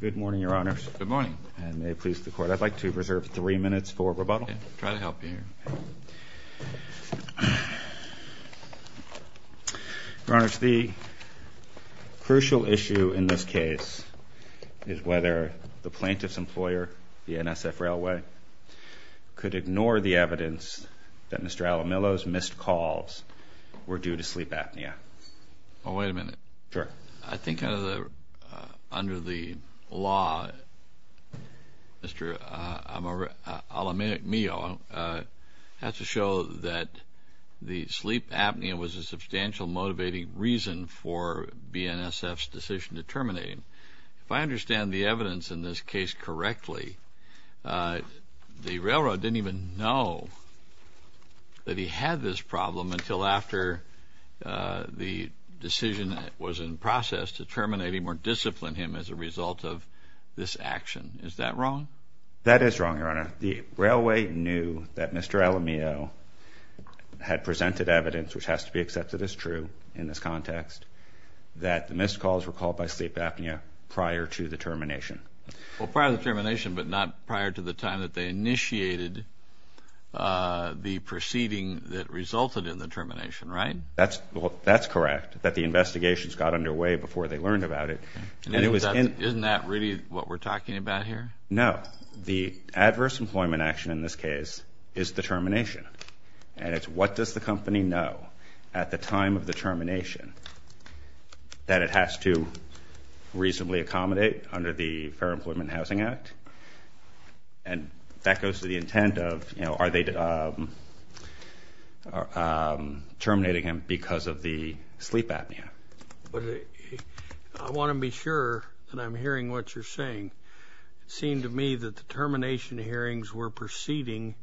Good morning, Your Honors. Good morning. And may it please the Court, I'd like to reserve three minutes for rebuttal. Okay. I'll try to help you here. Your Honors, the crucial issue in this case is whether the plaintiff's employer, BNSF Railway, could ignore the evidence that Mr. Alamillo's missed calls were due to sleep apnea. Well, wait a minute. Sure. I think under the law, Mr. Alamillo has to show that the sleep apnea was a substantial, motivating reason for BNSF's decision to terminate him. If I understand the evidence in this case correctly, the railroad didn't even know that he had this problem until after the decision was in process to terminate him or discipline him as a result of this action. Is that wrong? That is wrong, Your Honor. The railway knew that Mr. Alamillo had presented evidence, which has to be accepted as true in this context, that the missed calls were called by sleep apnea prior to the termination. Well, prior to the termination, but not prior to the time that they initiated the proceeding that resulted in the termination. Right? That's correct, that the investigations got underway before they learned about it. Isn't that really what we're talking about here? No. The adverse employment action in this case is the termination, and it's what does the company know at the time of the termination that it has to reasonably accommodate under the Fair Employment and Housing Act? And that goes to the intent of, you know, are they terminating him because of the sleep apnea? I want to be sure that I'm hearing what you're saying. It seemed to me that the termination hearings were proceeding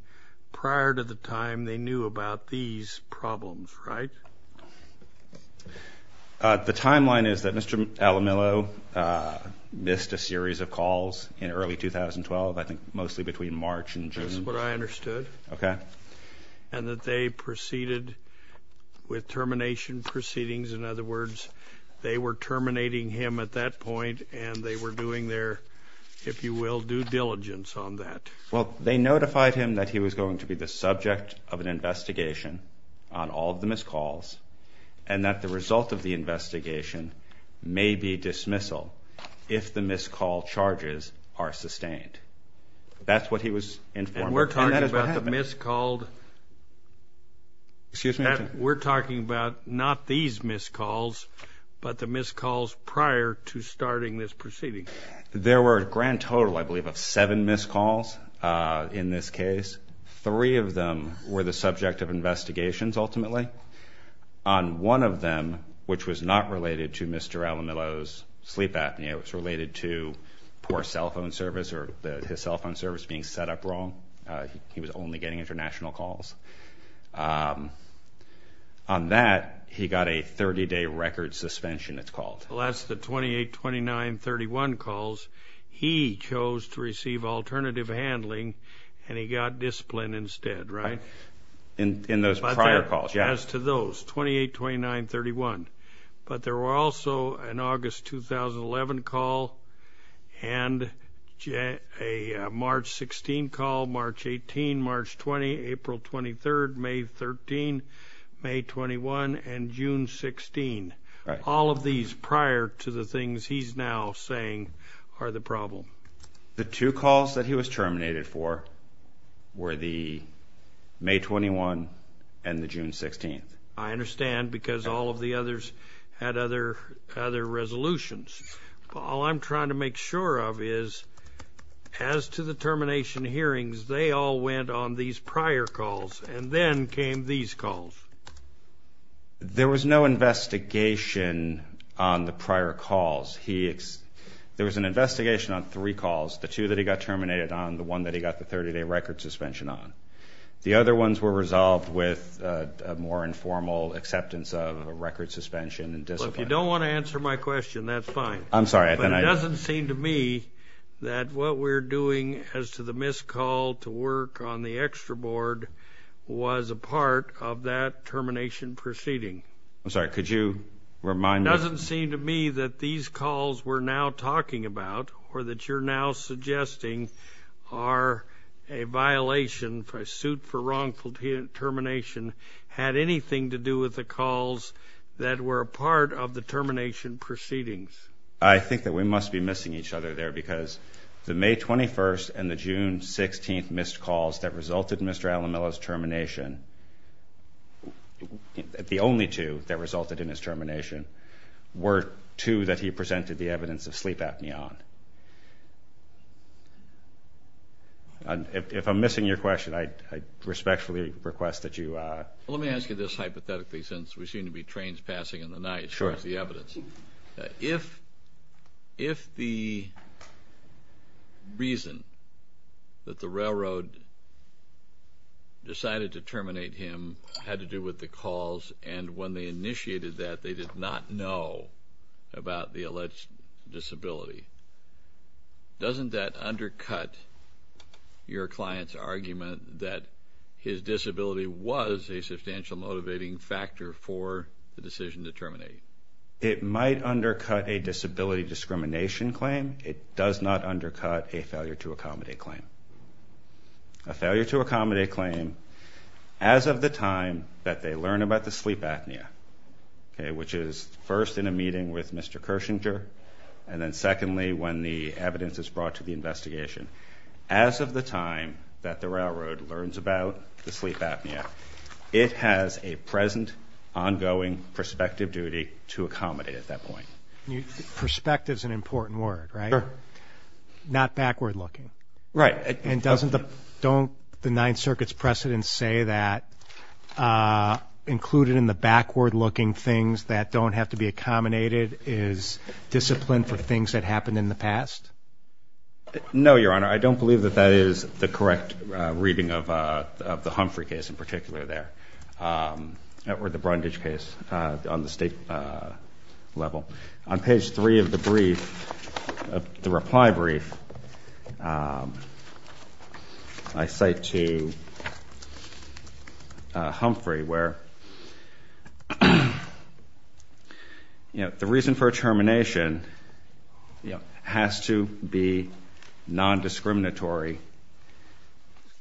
prior to the time they knew about these problems, right? The timeline is that Mr. Alamillo missed a series of calls in early 2012, I think mostly between March and June. That's what I understood. Okay. And that they proceeded with termination proceedings. In other words, they were terminating him at that point, and they were doing their, if you will, due diligence on that. Well, they notified him that he was going to be the subject of an investigation on all of the missed calls and that the result of the investigation may be dismissal if the missed call charges are sustained. And we're talking about the missed called. We're talking about not these missed calls, but the missed calls prior to starting this proceeding. There were a grand total, I believe, of seven missed calls in this case. Three of them were the subject of investigations ultimately. On one of them, which was not related to Mr. Alamillo's sleep apnea, it was related to poor cell phone service or his cell phone service being set up wrong. He was only getting international calls. On that, he got a 30-day record suspension, it's called. Well, that's the 28, 29, 31 calls. He chose to receive alternative handling, and he got discipline instead, right? In those prior calls, yes. As to those, 28, 29, 31. But there were also an August 2011 call and a March 16 call, March 18, March 20, April 23, May 13, May 21, and June 16. All of these prior to the things he's now saying are the problem. The two calls that he was terminated for were the May 21 and the June 16. I understand because all of the others had other resolutions. All I'm trying to make sure of is, as to the termination hearings, they all went on these prior calls, and then came these calls. There was no investigation on the prior calls. There was an investigation on three calls, the two that he got terminated on, the one that he got the 30-day record suspension on. The other ones were resolved with a more informal acceptance of a record suspension and discipline. Well, if you don't want to answer my question, that's fine. I'm sorry. But it doesn't seem to me that what we're doing as to the missed call to work on the extra board was a part of that termination proceeding. I'm sorry. Could you remind me? It doesn't seem to me that these calls we're now talking about or that you're now suggesting are a violation, a suit for wrongful termination, had anything to do with the calls that were a part of the termination proceedings. I think that we must be missing each other there because the May 21 and the June 16 missed calls that resulted in Mr. were two that he presented the evidence of sleep apnea on. If I'm missing your question, I respectfully request that you... Let me ask you this hypothetically since we seem to be trains passing in the night. Sure. Here's the evidence. If the reason that the railroad decided to terminate him had to do with the calls and when they initiated that they did not know about the alleged disability, doesn't that undercut your client's argument that his disability was a substantial motivating factor for the decision to terminate? It might undercut a disability discrimination claim. It does not undercut a failure to accommodate claim. A failure to accommodate claim as of the time that they learn about the sleep apnea, which is first in a meeting with Mr. Kershinger and then secondly when the evidence is brought to the investigation. As of the time that the railroad learns about the sleep apnea, it has a present ongoing perspective duty to accommodate at that point. Perspective is an important word, right? Sure. Not backward looking. Right. And doesn't the... Don't the Ninth Circuit's precedents say that included in the backward looking things that don't have to be accommodated is discipline for things that happened in the past? No, Your Honor. I don't believe that that is the correct reading of the Humphrey case in particular there or the Brundage case on the state level. On page three of the brief, the reply brief, I cite to Humphrey where, you know, the reason for termination has to be non-discriminatory.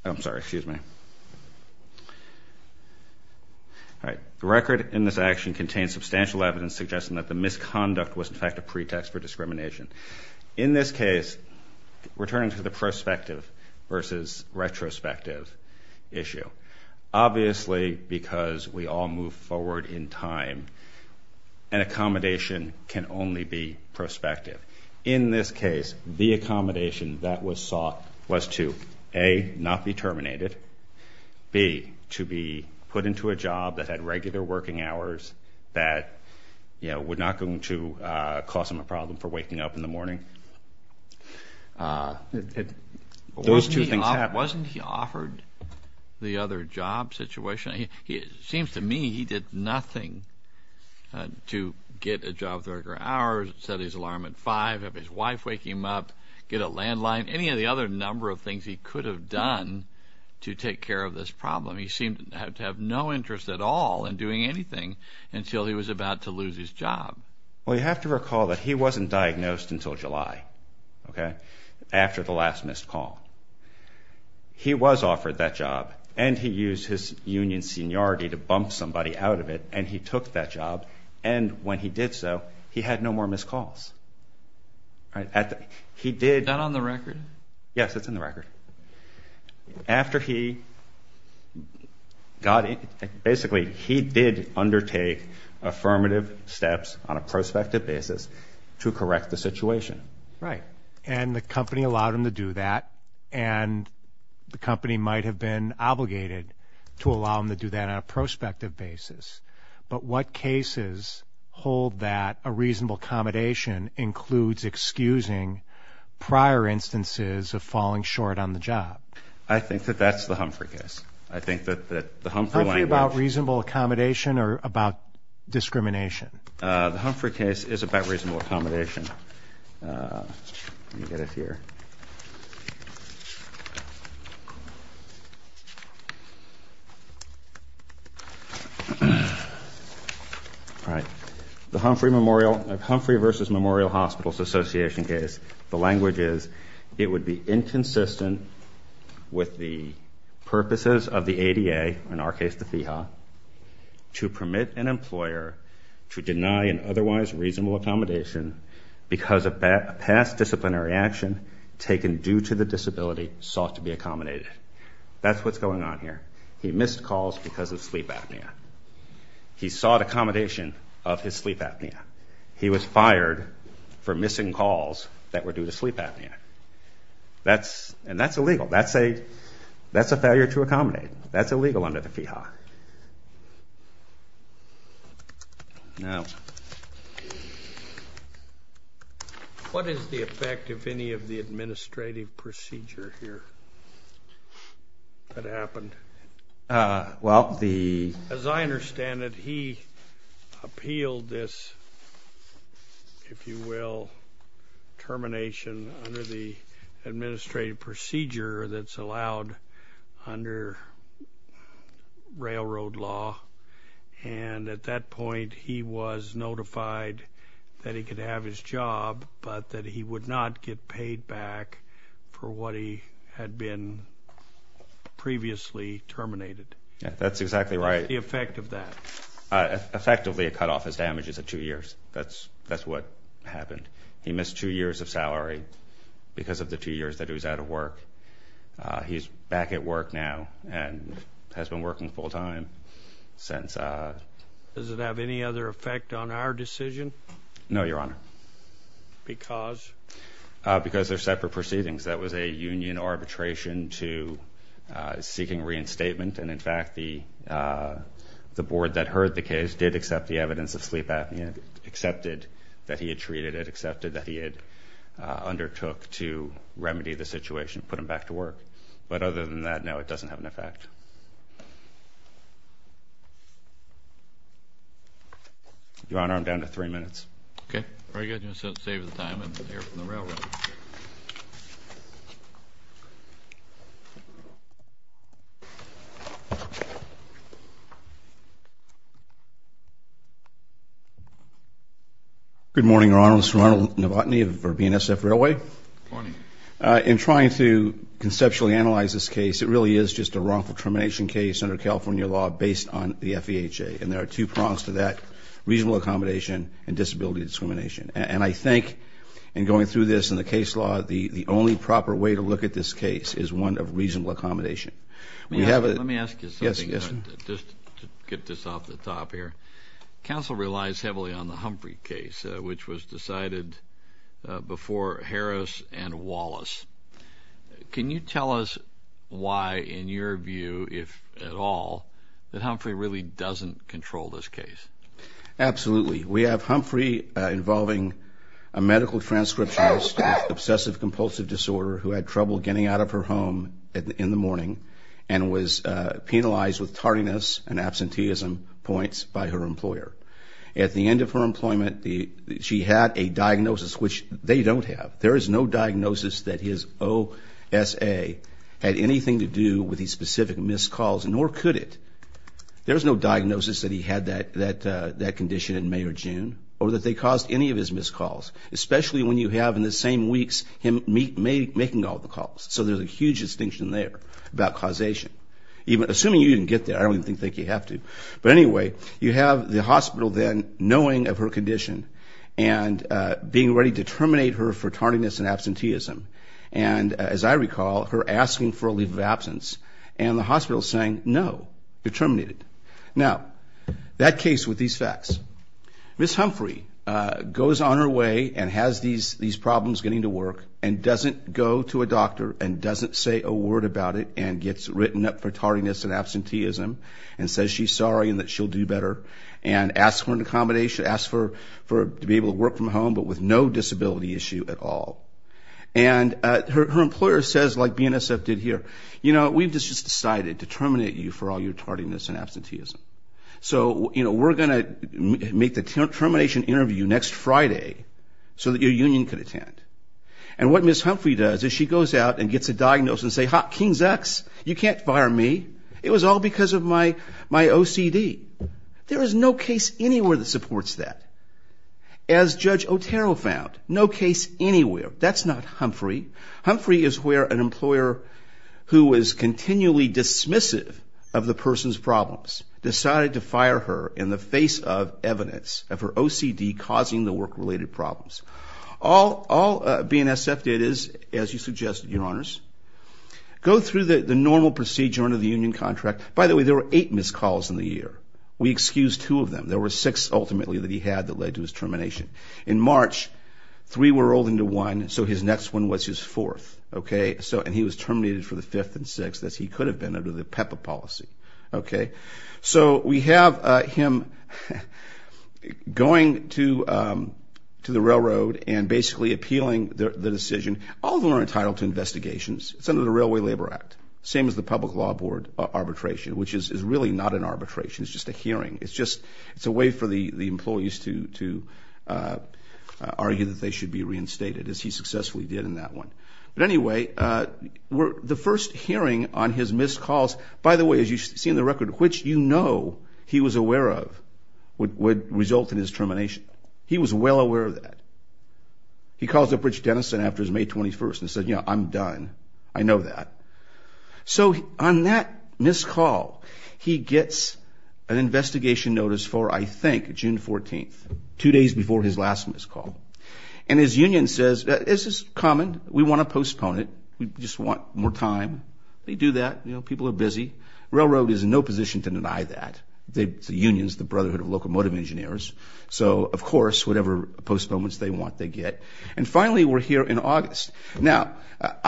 I'm sorry. Excuse me. All right. The record in this action contains substantial evidence suggesting that the misconduct was in fact a pretext for discrimination. In this case, we're turning to the prospective versus retrospective issue. Obviously, because we all move forward in time, an accommodation can only be prospective. In this case, the accommodation that was sought was to, A, not be terminated, B, to be put into a job that had regular working hours that, you know, would not going to cause him a problem for waking up in the morning. Those two things happened. Wasn't he offered the other job situation? It seems to me he did nothing to get a job with regular hours, set his alarm at 5, have his wife wake him up, get a landline, any of the other number of things he could have done to take care of this problem. He seemed to have no interest at all in doing anything until he was about to lose his job. Well, you have to recall that he wasn't diagnosed until July, okay, after the last missed call. He was offered that job, and he used his union seniority to bump somebody out of it, and he took that job. And when he did so, he had no more missed calls. Is that on the record? Yes, it's in the record. After he got in, basically, he did undertake affirmative steps on a prospective basis to correct the situation. Right. And the company allowed him to do that, and the company might have been obligated to allow him to do that on a prospective basis. But what cases hold that a reasonable accommodation includes excusing prior instances of falling short on the job? I think that that's the Humphrey case. I think that the Humphrey language- Humphrey about reasonable accommodation or about discrimination? The Humphrey case is about reasonable accommodation. Let me get it here. All right. The Humphrey Memorial-Humphrey v. Memorial Hospitals Association case, the language is it would be inconsistent with the purposes of the ADA, in our case the FEHA, to permit an employer to deny an otherwise reasonable accommodation because a past disciplinary action taken due to the disability sought to be accommodated. That's what's going on here. He missed calls because of sleep apnea. He sought accommodation of his sleep apnea. He was fired for missing calls that were due to sleep apnea. And that's illegal. That's a failure to accommodate. That's illegal under the FEHA. What is the effect of any of the administrative procedure here that happened? Well, the- As I understand it, he appealed this, if you will, termination under the administrative procedure that's allowed under railroad law. And at that point, he was notified that he could have his job but that he would not get paid back for what he had been previously terminated. That's exactly right. What's the effect of that? Effectively, it cut off his damages of two years. That's what happened. He missed two years of salary because of the two years that he was out of work. He's back at work now and has been working full time since. Does it have any other effect on our decision? No, Your Honor. Because? Because they're separate proceedings. That was a union arbitration to seeking reinstatement. And, in fact, the board that heard the case did accept the evidence of sleep apnea, accepted that he had treated it, accepted that he had undertook to remedy the situation, put him back to work. But other than that, no, it doesn't have an effect. Your Honor, I'm down to three minutes. Okay. Very good. Just to save the time, I'm going to hear from the railroad. Good morning, Your Honor. This is Ronald Novotny of BNSF Railway. Good morning. In trying to conceptually analyze this case, it really is just a wrongful termination case under California law based on the FEHA. And there are two prongs to that, reasonable accommodation and disability discrimination. And I think in going through this in the case law, the only proper way to look at this case is one of reasonable accommodation. Let me ask you a question. Just to get this off the top here, counsel relies heavily on the Humphrey case, which was decided before Harris and Wallace. Can you tell us why, in your view, if at all, that Humphrey really doesn't control this case? Absolutely. We have Humphrey involving a medical transcriptionist with obsessive compulsive disorder who had trouble getting out of her home in the morning and was penalized with tardiness and absenteeism points by her employer. At the end of her employment, she had a diagnosis, which they don't have. There is no diagnosis that his OSA had anything to do with his specific missed calls, nor could it. There's no diagnosis that he had that condition in May or June, or that they caused any of his missed calls, especially when you have in the same weeks him making all the calls. So there's a huge distinction there about causation. Assuming you didn't get there, I don't even think you have to. But anyway, you have the hospital then knowing of her condition and being ready to terminate her for tardiness and absenteeism. And as I recall, her asking for a leave of absence, and the hospital saying, no, you're terminated. Now, that case with these facts, Ms. Humphrey goes on her way and has these problems getting to work and doesn't go to a doctor and doesn't say a word about it and gets written up for tardiness and absenteeism and says she's sorry and that she'll do better and asks for an accommodation, asks to be able to work from home, but with no disability issue at all. And her employer says, like BNSF did here, you know, we've just decided to terminate you for all your tardiness and absenteeism. So, you know, we're going to make the termination interview next Friday so that your union can attend. And what Ms. Humphrey does is she goes out and gets a diagnosis and says, hot King's X, you can't fire me. It was all because of my OCD. There is no case anywhere that supports that. As Judge Otero found, no case anywhere. That's not Humphrey. Humphrey is where an employer who is continually dismissive of the person's problems decided to fire her in the face of evidence of her OCD causing the work-related problems. All BNSF did is, as you suggested, Your Honors, go through the normal procedure under the union contract. By the way, there were eight missed calls in the year. We excused two of them. There were six, ultimately, that he had that led to his termination. In March, three were rolled into one, so his next one was his fourth, okay? And he was terminated for the fifth and sixth, as he could have been under the PEPA policy, okay? So we have him going to the railroad and basically appealing the decision. All of them are entitled to investigations. It's under the Railway Labor Act, same as the Public Law Board arbitration, which is really not an arbitration. It's just a hearing. It's a way for the employees to argue that they should be reinstated, as he successfully did in that one. But anyway, the first hearing on his missed calls, by the way, as you see in the record, which you know he was aware of, would result in his termination. He was well aware of that. He calls up Rich Denison after his May 21st and says, you know, I'm done. I know that. So on that missed call, he gets an investigation notice for, I think, June 14th, two days before his last missed call. And his union says, this is common. We want to postpone it. We just want more time. They do that. You know, people are busy. Railroad is in no position to deny that. The union is the brotherhood of locomotive engineers. So, of course, whatever postponements they want, they get. And finally, we're here in August. Now,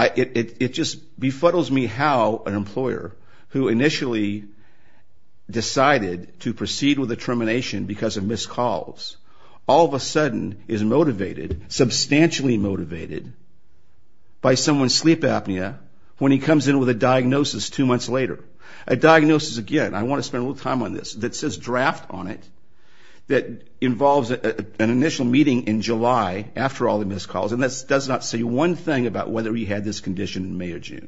it just befuddles me how an employer who initially decided to proceed with the termination because of missed calls all of a sudden is motivated, substantially motivated, by someone's sleep apnea when he comes in with a diagnosis two months later. A diagnosis, again, I want to spend a little time on this, that says draft on it, that involves an initial meeting in July after all the missed calls, and that does not say one thing about whether he had this condition in May or June,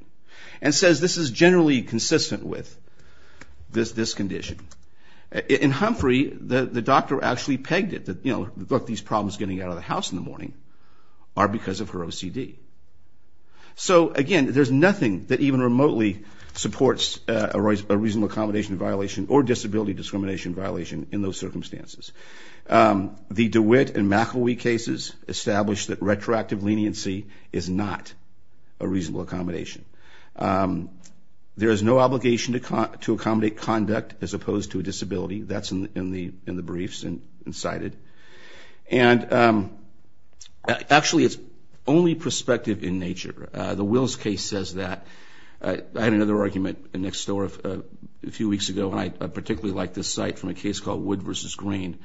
and says this is generally consistent with this condition. In Humphrey, the doctor actually pegged it, you know, these problems getting out of the house in the morning are because of her OCD. So, again, there's nothing that even remotely supports a reasonable accommodation violation or disability discrimination violation in those circumstances. The DeWitt and McElwee cases established that retroactive leniency is not a reasonable accommodation. There is no obligation to accommodate conduct as opposed to a disability. That's in the briefs and cited. And, actually, it's only perspective in nature. The Wills case says that. I had another argument next door a few weeks ago, and I particularly like this site from a case called Wood v. Green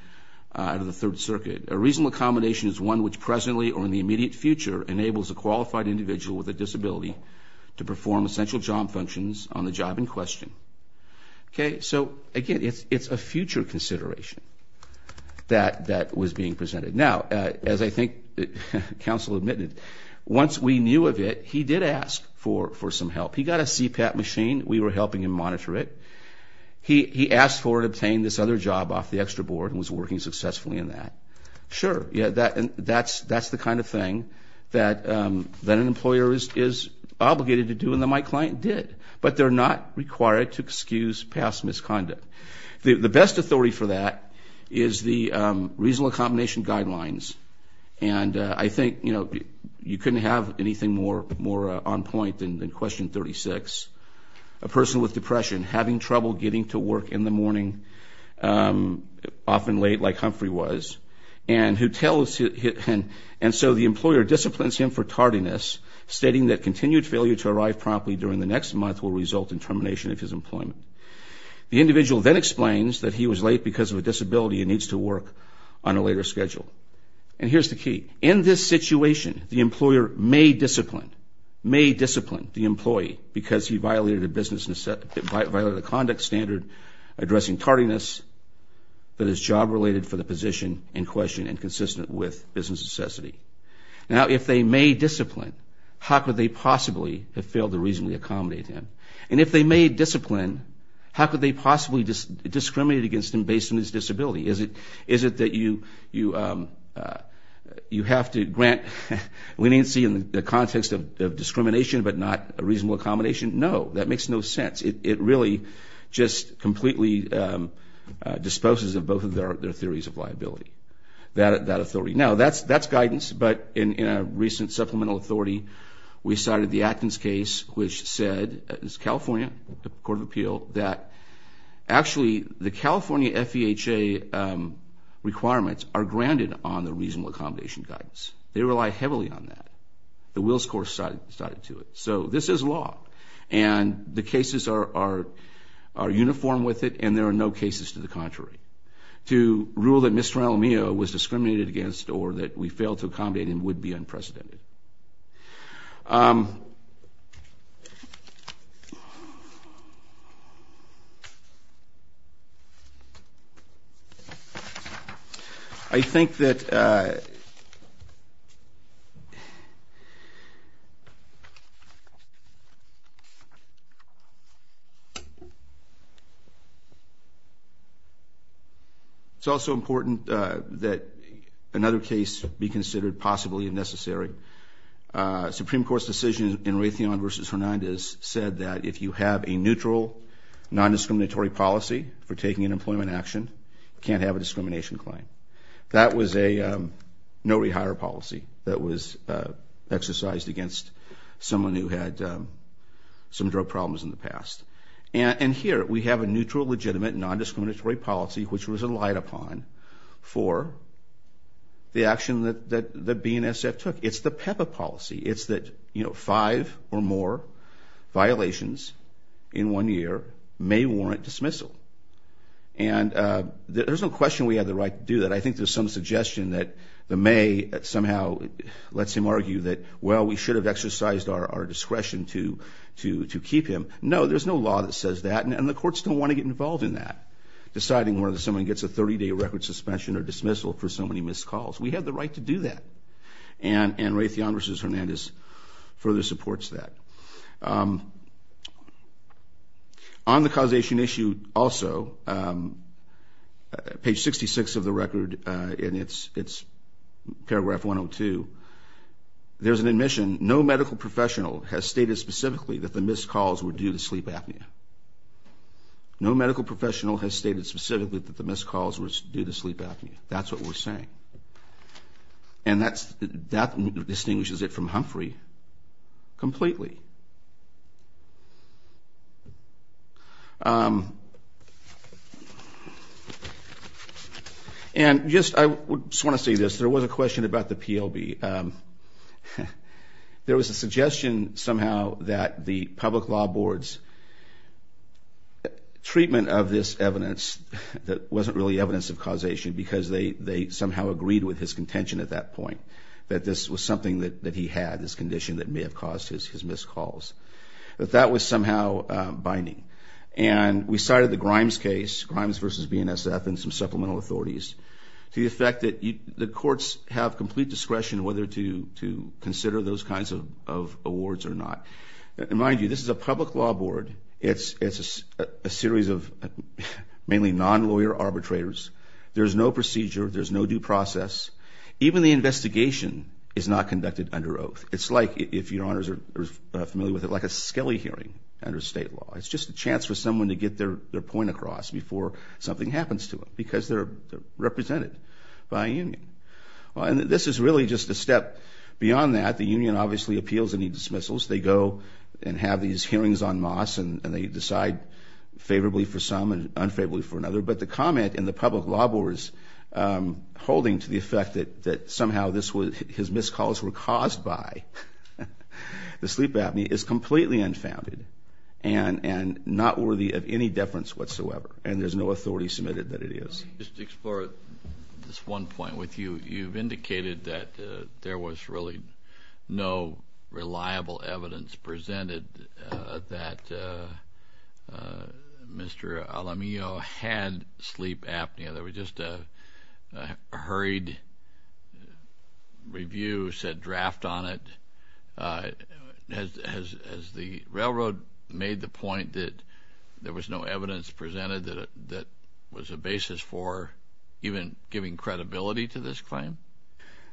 out of the Third Circuit. A reasonable accommodation is one which presently or in the immediate future enables a qualified individual with a disability to perform essential job functions on the job in question. Okay, so, again, it's a future consideration that was being presented. Now, as I think counsel admitted, once we knew of it, he did ask for some help. He got a CPAP machine. We were helping him monitor it. He asked for and obtained this other job off the extra board and was working successfully in that. Sure, that's the kind of thing that an employer is obligated to do and that my to excuse past misconduct. The best authority for that is the reasonable accommodation guidelines. And I think, you know, you couldn't have anything more on point than question 36. A person with depression having trouble getting to work in the morning, often late like Humphrey was, and who tells him, and so the employer disciplines him for tardiness, stating that continued failure to arrive promptly during the next month will result in termination of his employment. The individual then explains that he was late because of a disability and needs to work on a later schedule. And here's the key. In this situation, the employer may discipline, may discipline the employee because he violated a conduct standard addressing tardiness that is job-related for the position in question and consistent with business necessity. Now, if they may discipline, how could they possibly have failed the reasonable accommodate him? And if they may discipline, how could they possibly discriminate against him based on his disability? Is it that you have to grant leniency in the context of discrimination but not a reasonable accommodation? No, that makes no sense. It really just completely disposes of both of their theories of liability, that authority. Now, that's guidance, but in a recent supplemental authority, we cited the California, the Court of Appeal, that actually the California FEHA requirements are granted on the reasonable accommodation guidance. They rely heavily on that. The Will's course cited to it. So this is law, and the cases are uniform with it, and there are no cases to the contrary. To rule that Mr. Alamillo was discriminated against or that we failed to accommodate him would be unprecedented. I think that it's also important that another case be considered possibly necessary. Supreme Court's decision in Raytheon versus Hernandez said that if you have a neutral, non-discriminatory policy for taking an employment action, you can't have a discrimination claim. That was a no-rehire policy that was exercised against someone who had some drug problems in the past. And here, we have a neutral, legitimate, non-discriminatory policy which was relied upon for the action that BNSF took. It's the PEPA policy. It's that, you know, five or more violations in one year may warrant dismissal. And there's no question we have the right to do that. I think there's some suggestion that the may somehow lets him argue that, well, we should have exercised our discretion to keep him. No, there's no law that says that, and the courts don't want to get involved in that, deciding whether someone gets a 30-day record suspension or dismissal for so many missed calls. We have the right to do that. And Raytheon versus Hernandez further supports that. On the causation issue also, page 66 of the record, and it's paragraph 102, there's an admission, no medical professional has stated specifically that the missed calls were due to sleep apnea. No medical professional has stated specifically that the missed calls were due to sleep apnea. That's what we're saying. And that distinguishes it from Humphrey completely. And I just want to say this. There was a question about the PLB. There was a suggestion somehow that the public law board's treatment of this evidence that wasn't really evidence of causation because they somehow agreed with his contention at that point, that this was something that he had, this condition that may have caused his missed calls. But that was somehow binding. And we cited the Grimes case, Grimes versus BNSF, and some supplemental authorities to the effect that the courts have complete discretion whether to consider those kinds of awards or not. And mind you, this is a public law board. It's a series of mainly non-lawyer arbitrators. There's no procedure. There's no due process. Even the investigation is not conducted under oath. It's like, if your honors are familiar with it, like a skelly hearing under state law. It's just a chance for someone to get their point across before something happens to them because they're represented by a union. And this is really just a step beyond that. The union obviously appeals any dismissals. They go and have these hearings en masse, and they decide favorably for some and unfavorably for another. But the comment in the public law board's holding to the effect that somehow his missed calls were caused by the sleep apnea is completely unfounded and not worthy of any deference whatsoever. And there's no authority submitted that it is. Let me just explore this one point with you. You've indicated that there was really no reliable evidence presented that Mr. Alamillo had sleep apnea. There was just a hurried review, said draft on it. Has the railroad made the point that there was no evidence presented that was a basis for even giving credibility to this claim?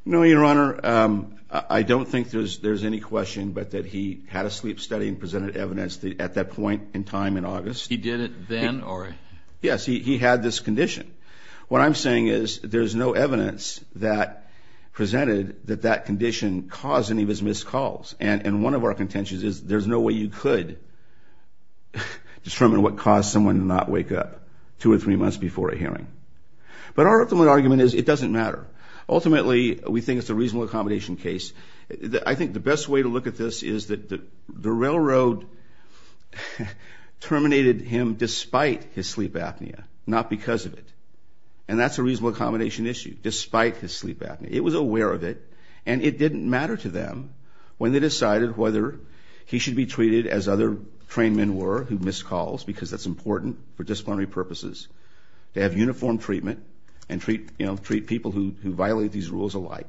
No, Your Honor. I don't think there's any question but that he had a sleep study and presented evidence at that point in time in August. He did it then? Yes, he had this condition. What I'm saying is there's no evidence that presented that that condition caused any of his missed calls. And one of our contentions is there's no way you could determine what caused someone to not wake up two or three months before a hearing. But our ultimate argument is it doesn't matter. Ultimately, we think it's a reasonable accommodation case. I think the best way to look at this is that the railroad terminated him despite his sleep apnea, not because of it. And that's a reasonable accommodation issue, despite his sleep apnea. It was aware of it, and it didn't matter to them when they decided whether he should be treated as other trained men were who missed calls because that's important for disciplinary purposes. They have uniform treatment and treat people who violate these rules alike.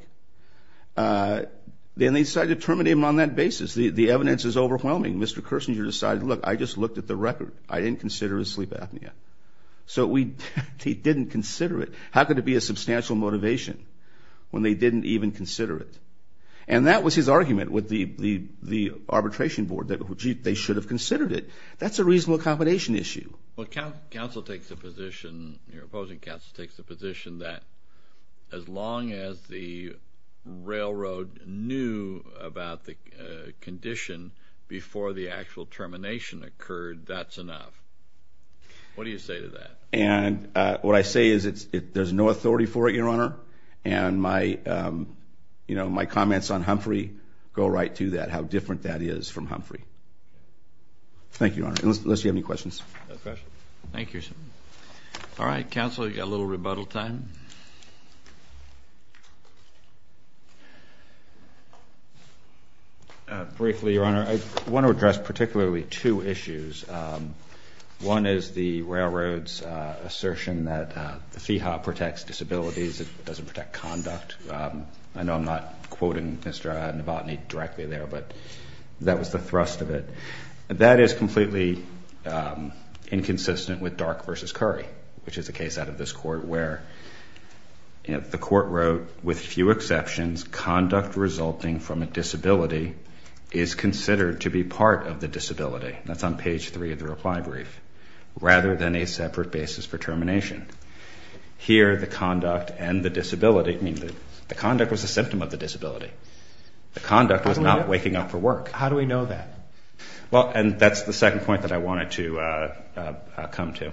Then they decided to terminate him on that basis. The evidence is overwhelming. Mr. Kersinger decided, look, I just looked at the record. I didn't consider his sleep apnea. So he didn't consider it. How could it be a substantial motivation when they didn't even consider it? And that was his argument with the arbitration board, that they should have considered it. That's a reasonable accommodation issue. Well, counsel takes the position, your opposing counsel takes the position that as long as the railroad knew about the condition before the actual termination occurred, that's enough. What do you say to that? What I say is there's no authority for it, your honor, and my comments on Humphrey go right to that, how different that is from Humphrey. Thank you, your honor, unless you have any questions. No questions. Thank you, sir. All right, counsel, you've got a little rebuttal time. Briefly, your honor, I want to address particularly two issues. One is the railroad's assertion that the FEHA protects disabilities. It doesn't protect conduct. I know I'm not quoting Mr. Novotny directly there, but that was the thrust of it. That is completely inconsistent with Dark v. Curry, which is a case out of this court where the court wrote, with few exceptions, conduct resulting from a disability is considered to be part of the disability. That's on page three of the reply brief, rather than a separate basis for termination. Here, the conduct and the disability, I mean, the conduct was a symptom of the disability. The conduct was not waking up for work. How do we know that? Well, and that's the second point that I wanted to come to.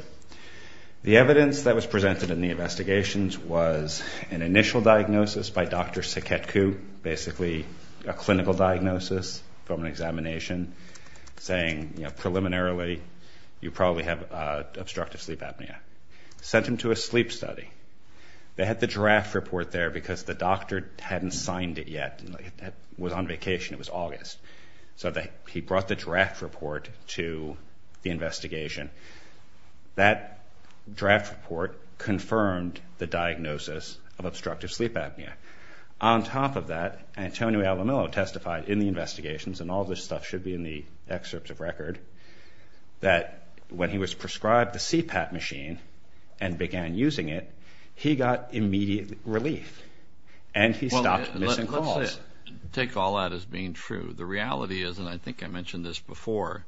The evidence that was presented in the investigations was an initial diagnosis by Dr. You know, preliminarily, you probably have obstructive sleep apnea. Sent him to a sleep study. They had the draft report there because the doctor hadn't signed it yet. It was on vacation. It was August. So he brought the draft report to the investigation. That draft report confirmed the diagnosis of obstructive sleep apnea. On top of that, Antonio Alamillo testified in the investigations, and all this stuff should be in the excerpts of record, that when he was prescribed the CPAP machine and began using it, he got immediate relief, and he stopped missing calls. Well, let's take all that as being true. The reality is, and I think I mentioned this before,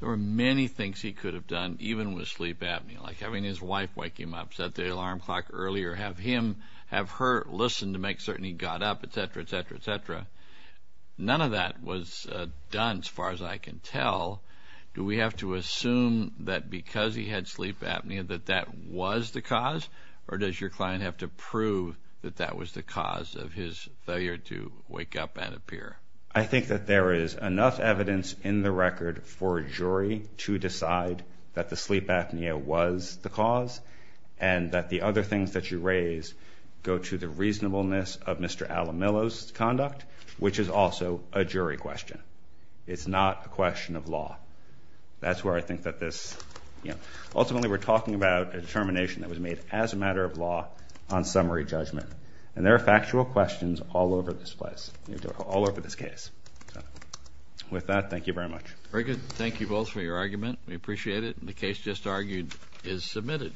there were many things he could have done even with sleep apnea, like having his wife wake him up, set the alarm clock earlier, have her listen to make certain he got up, et cetera, et cetera, et cetera. None of that was done, as far as I can tell. Do we have to assume that because he had sleep apnea that that was the cause, or does your client have to prove that that was the cause of his failure to wake up and appear? I think that there is enough evidence in the record for a jury to decide that the sleep apnea was the cause and that the other things that you raise go to the reasonableness of Mr. Alamillo's conduct, which is also a jury question. It's not a question of law. That's where I think that this, you know, ultimately we're talking about a determination that was made as a matter of law on summary judgment, and there are factual questions all over this place, all over this case. With that, thank you very much. Very good. Thank you both for your argument. We appreciate it, and the case just argued is submitted.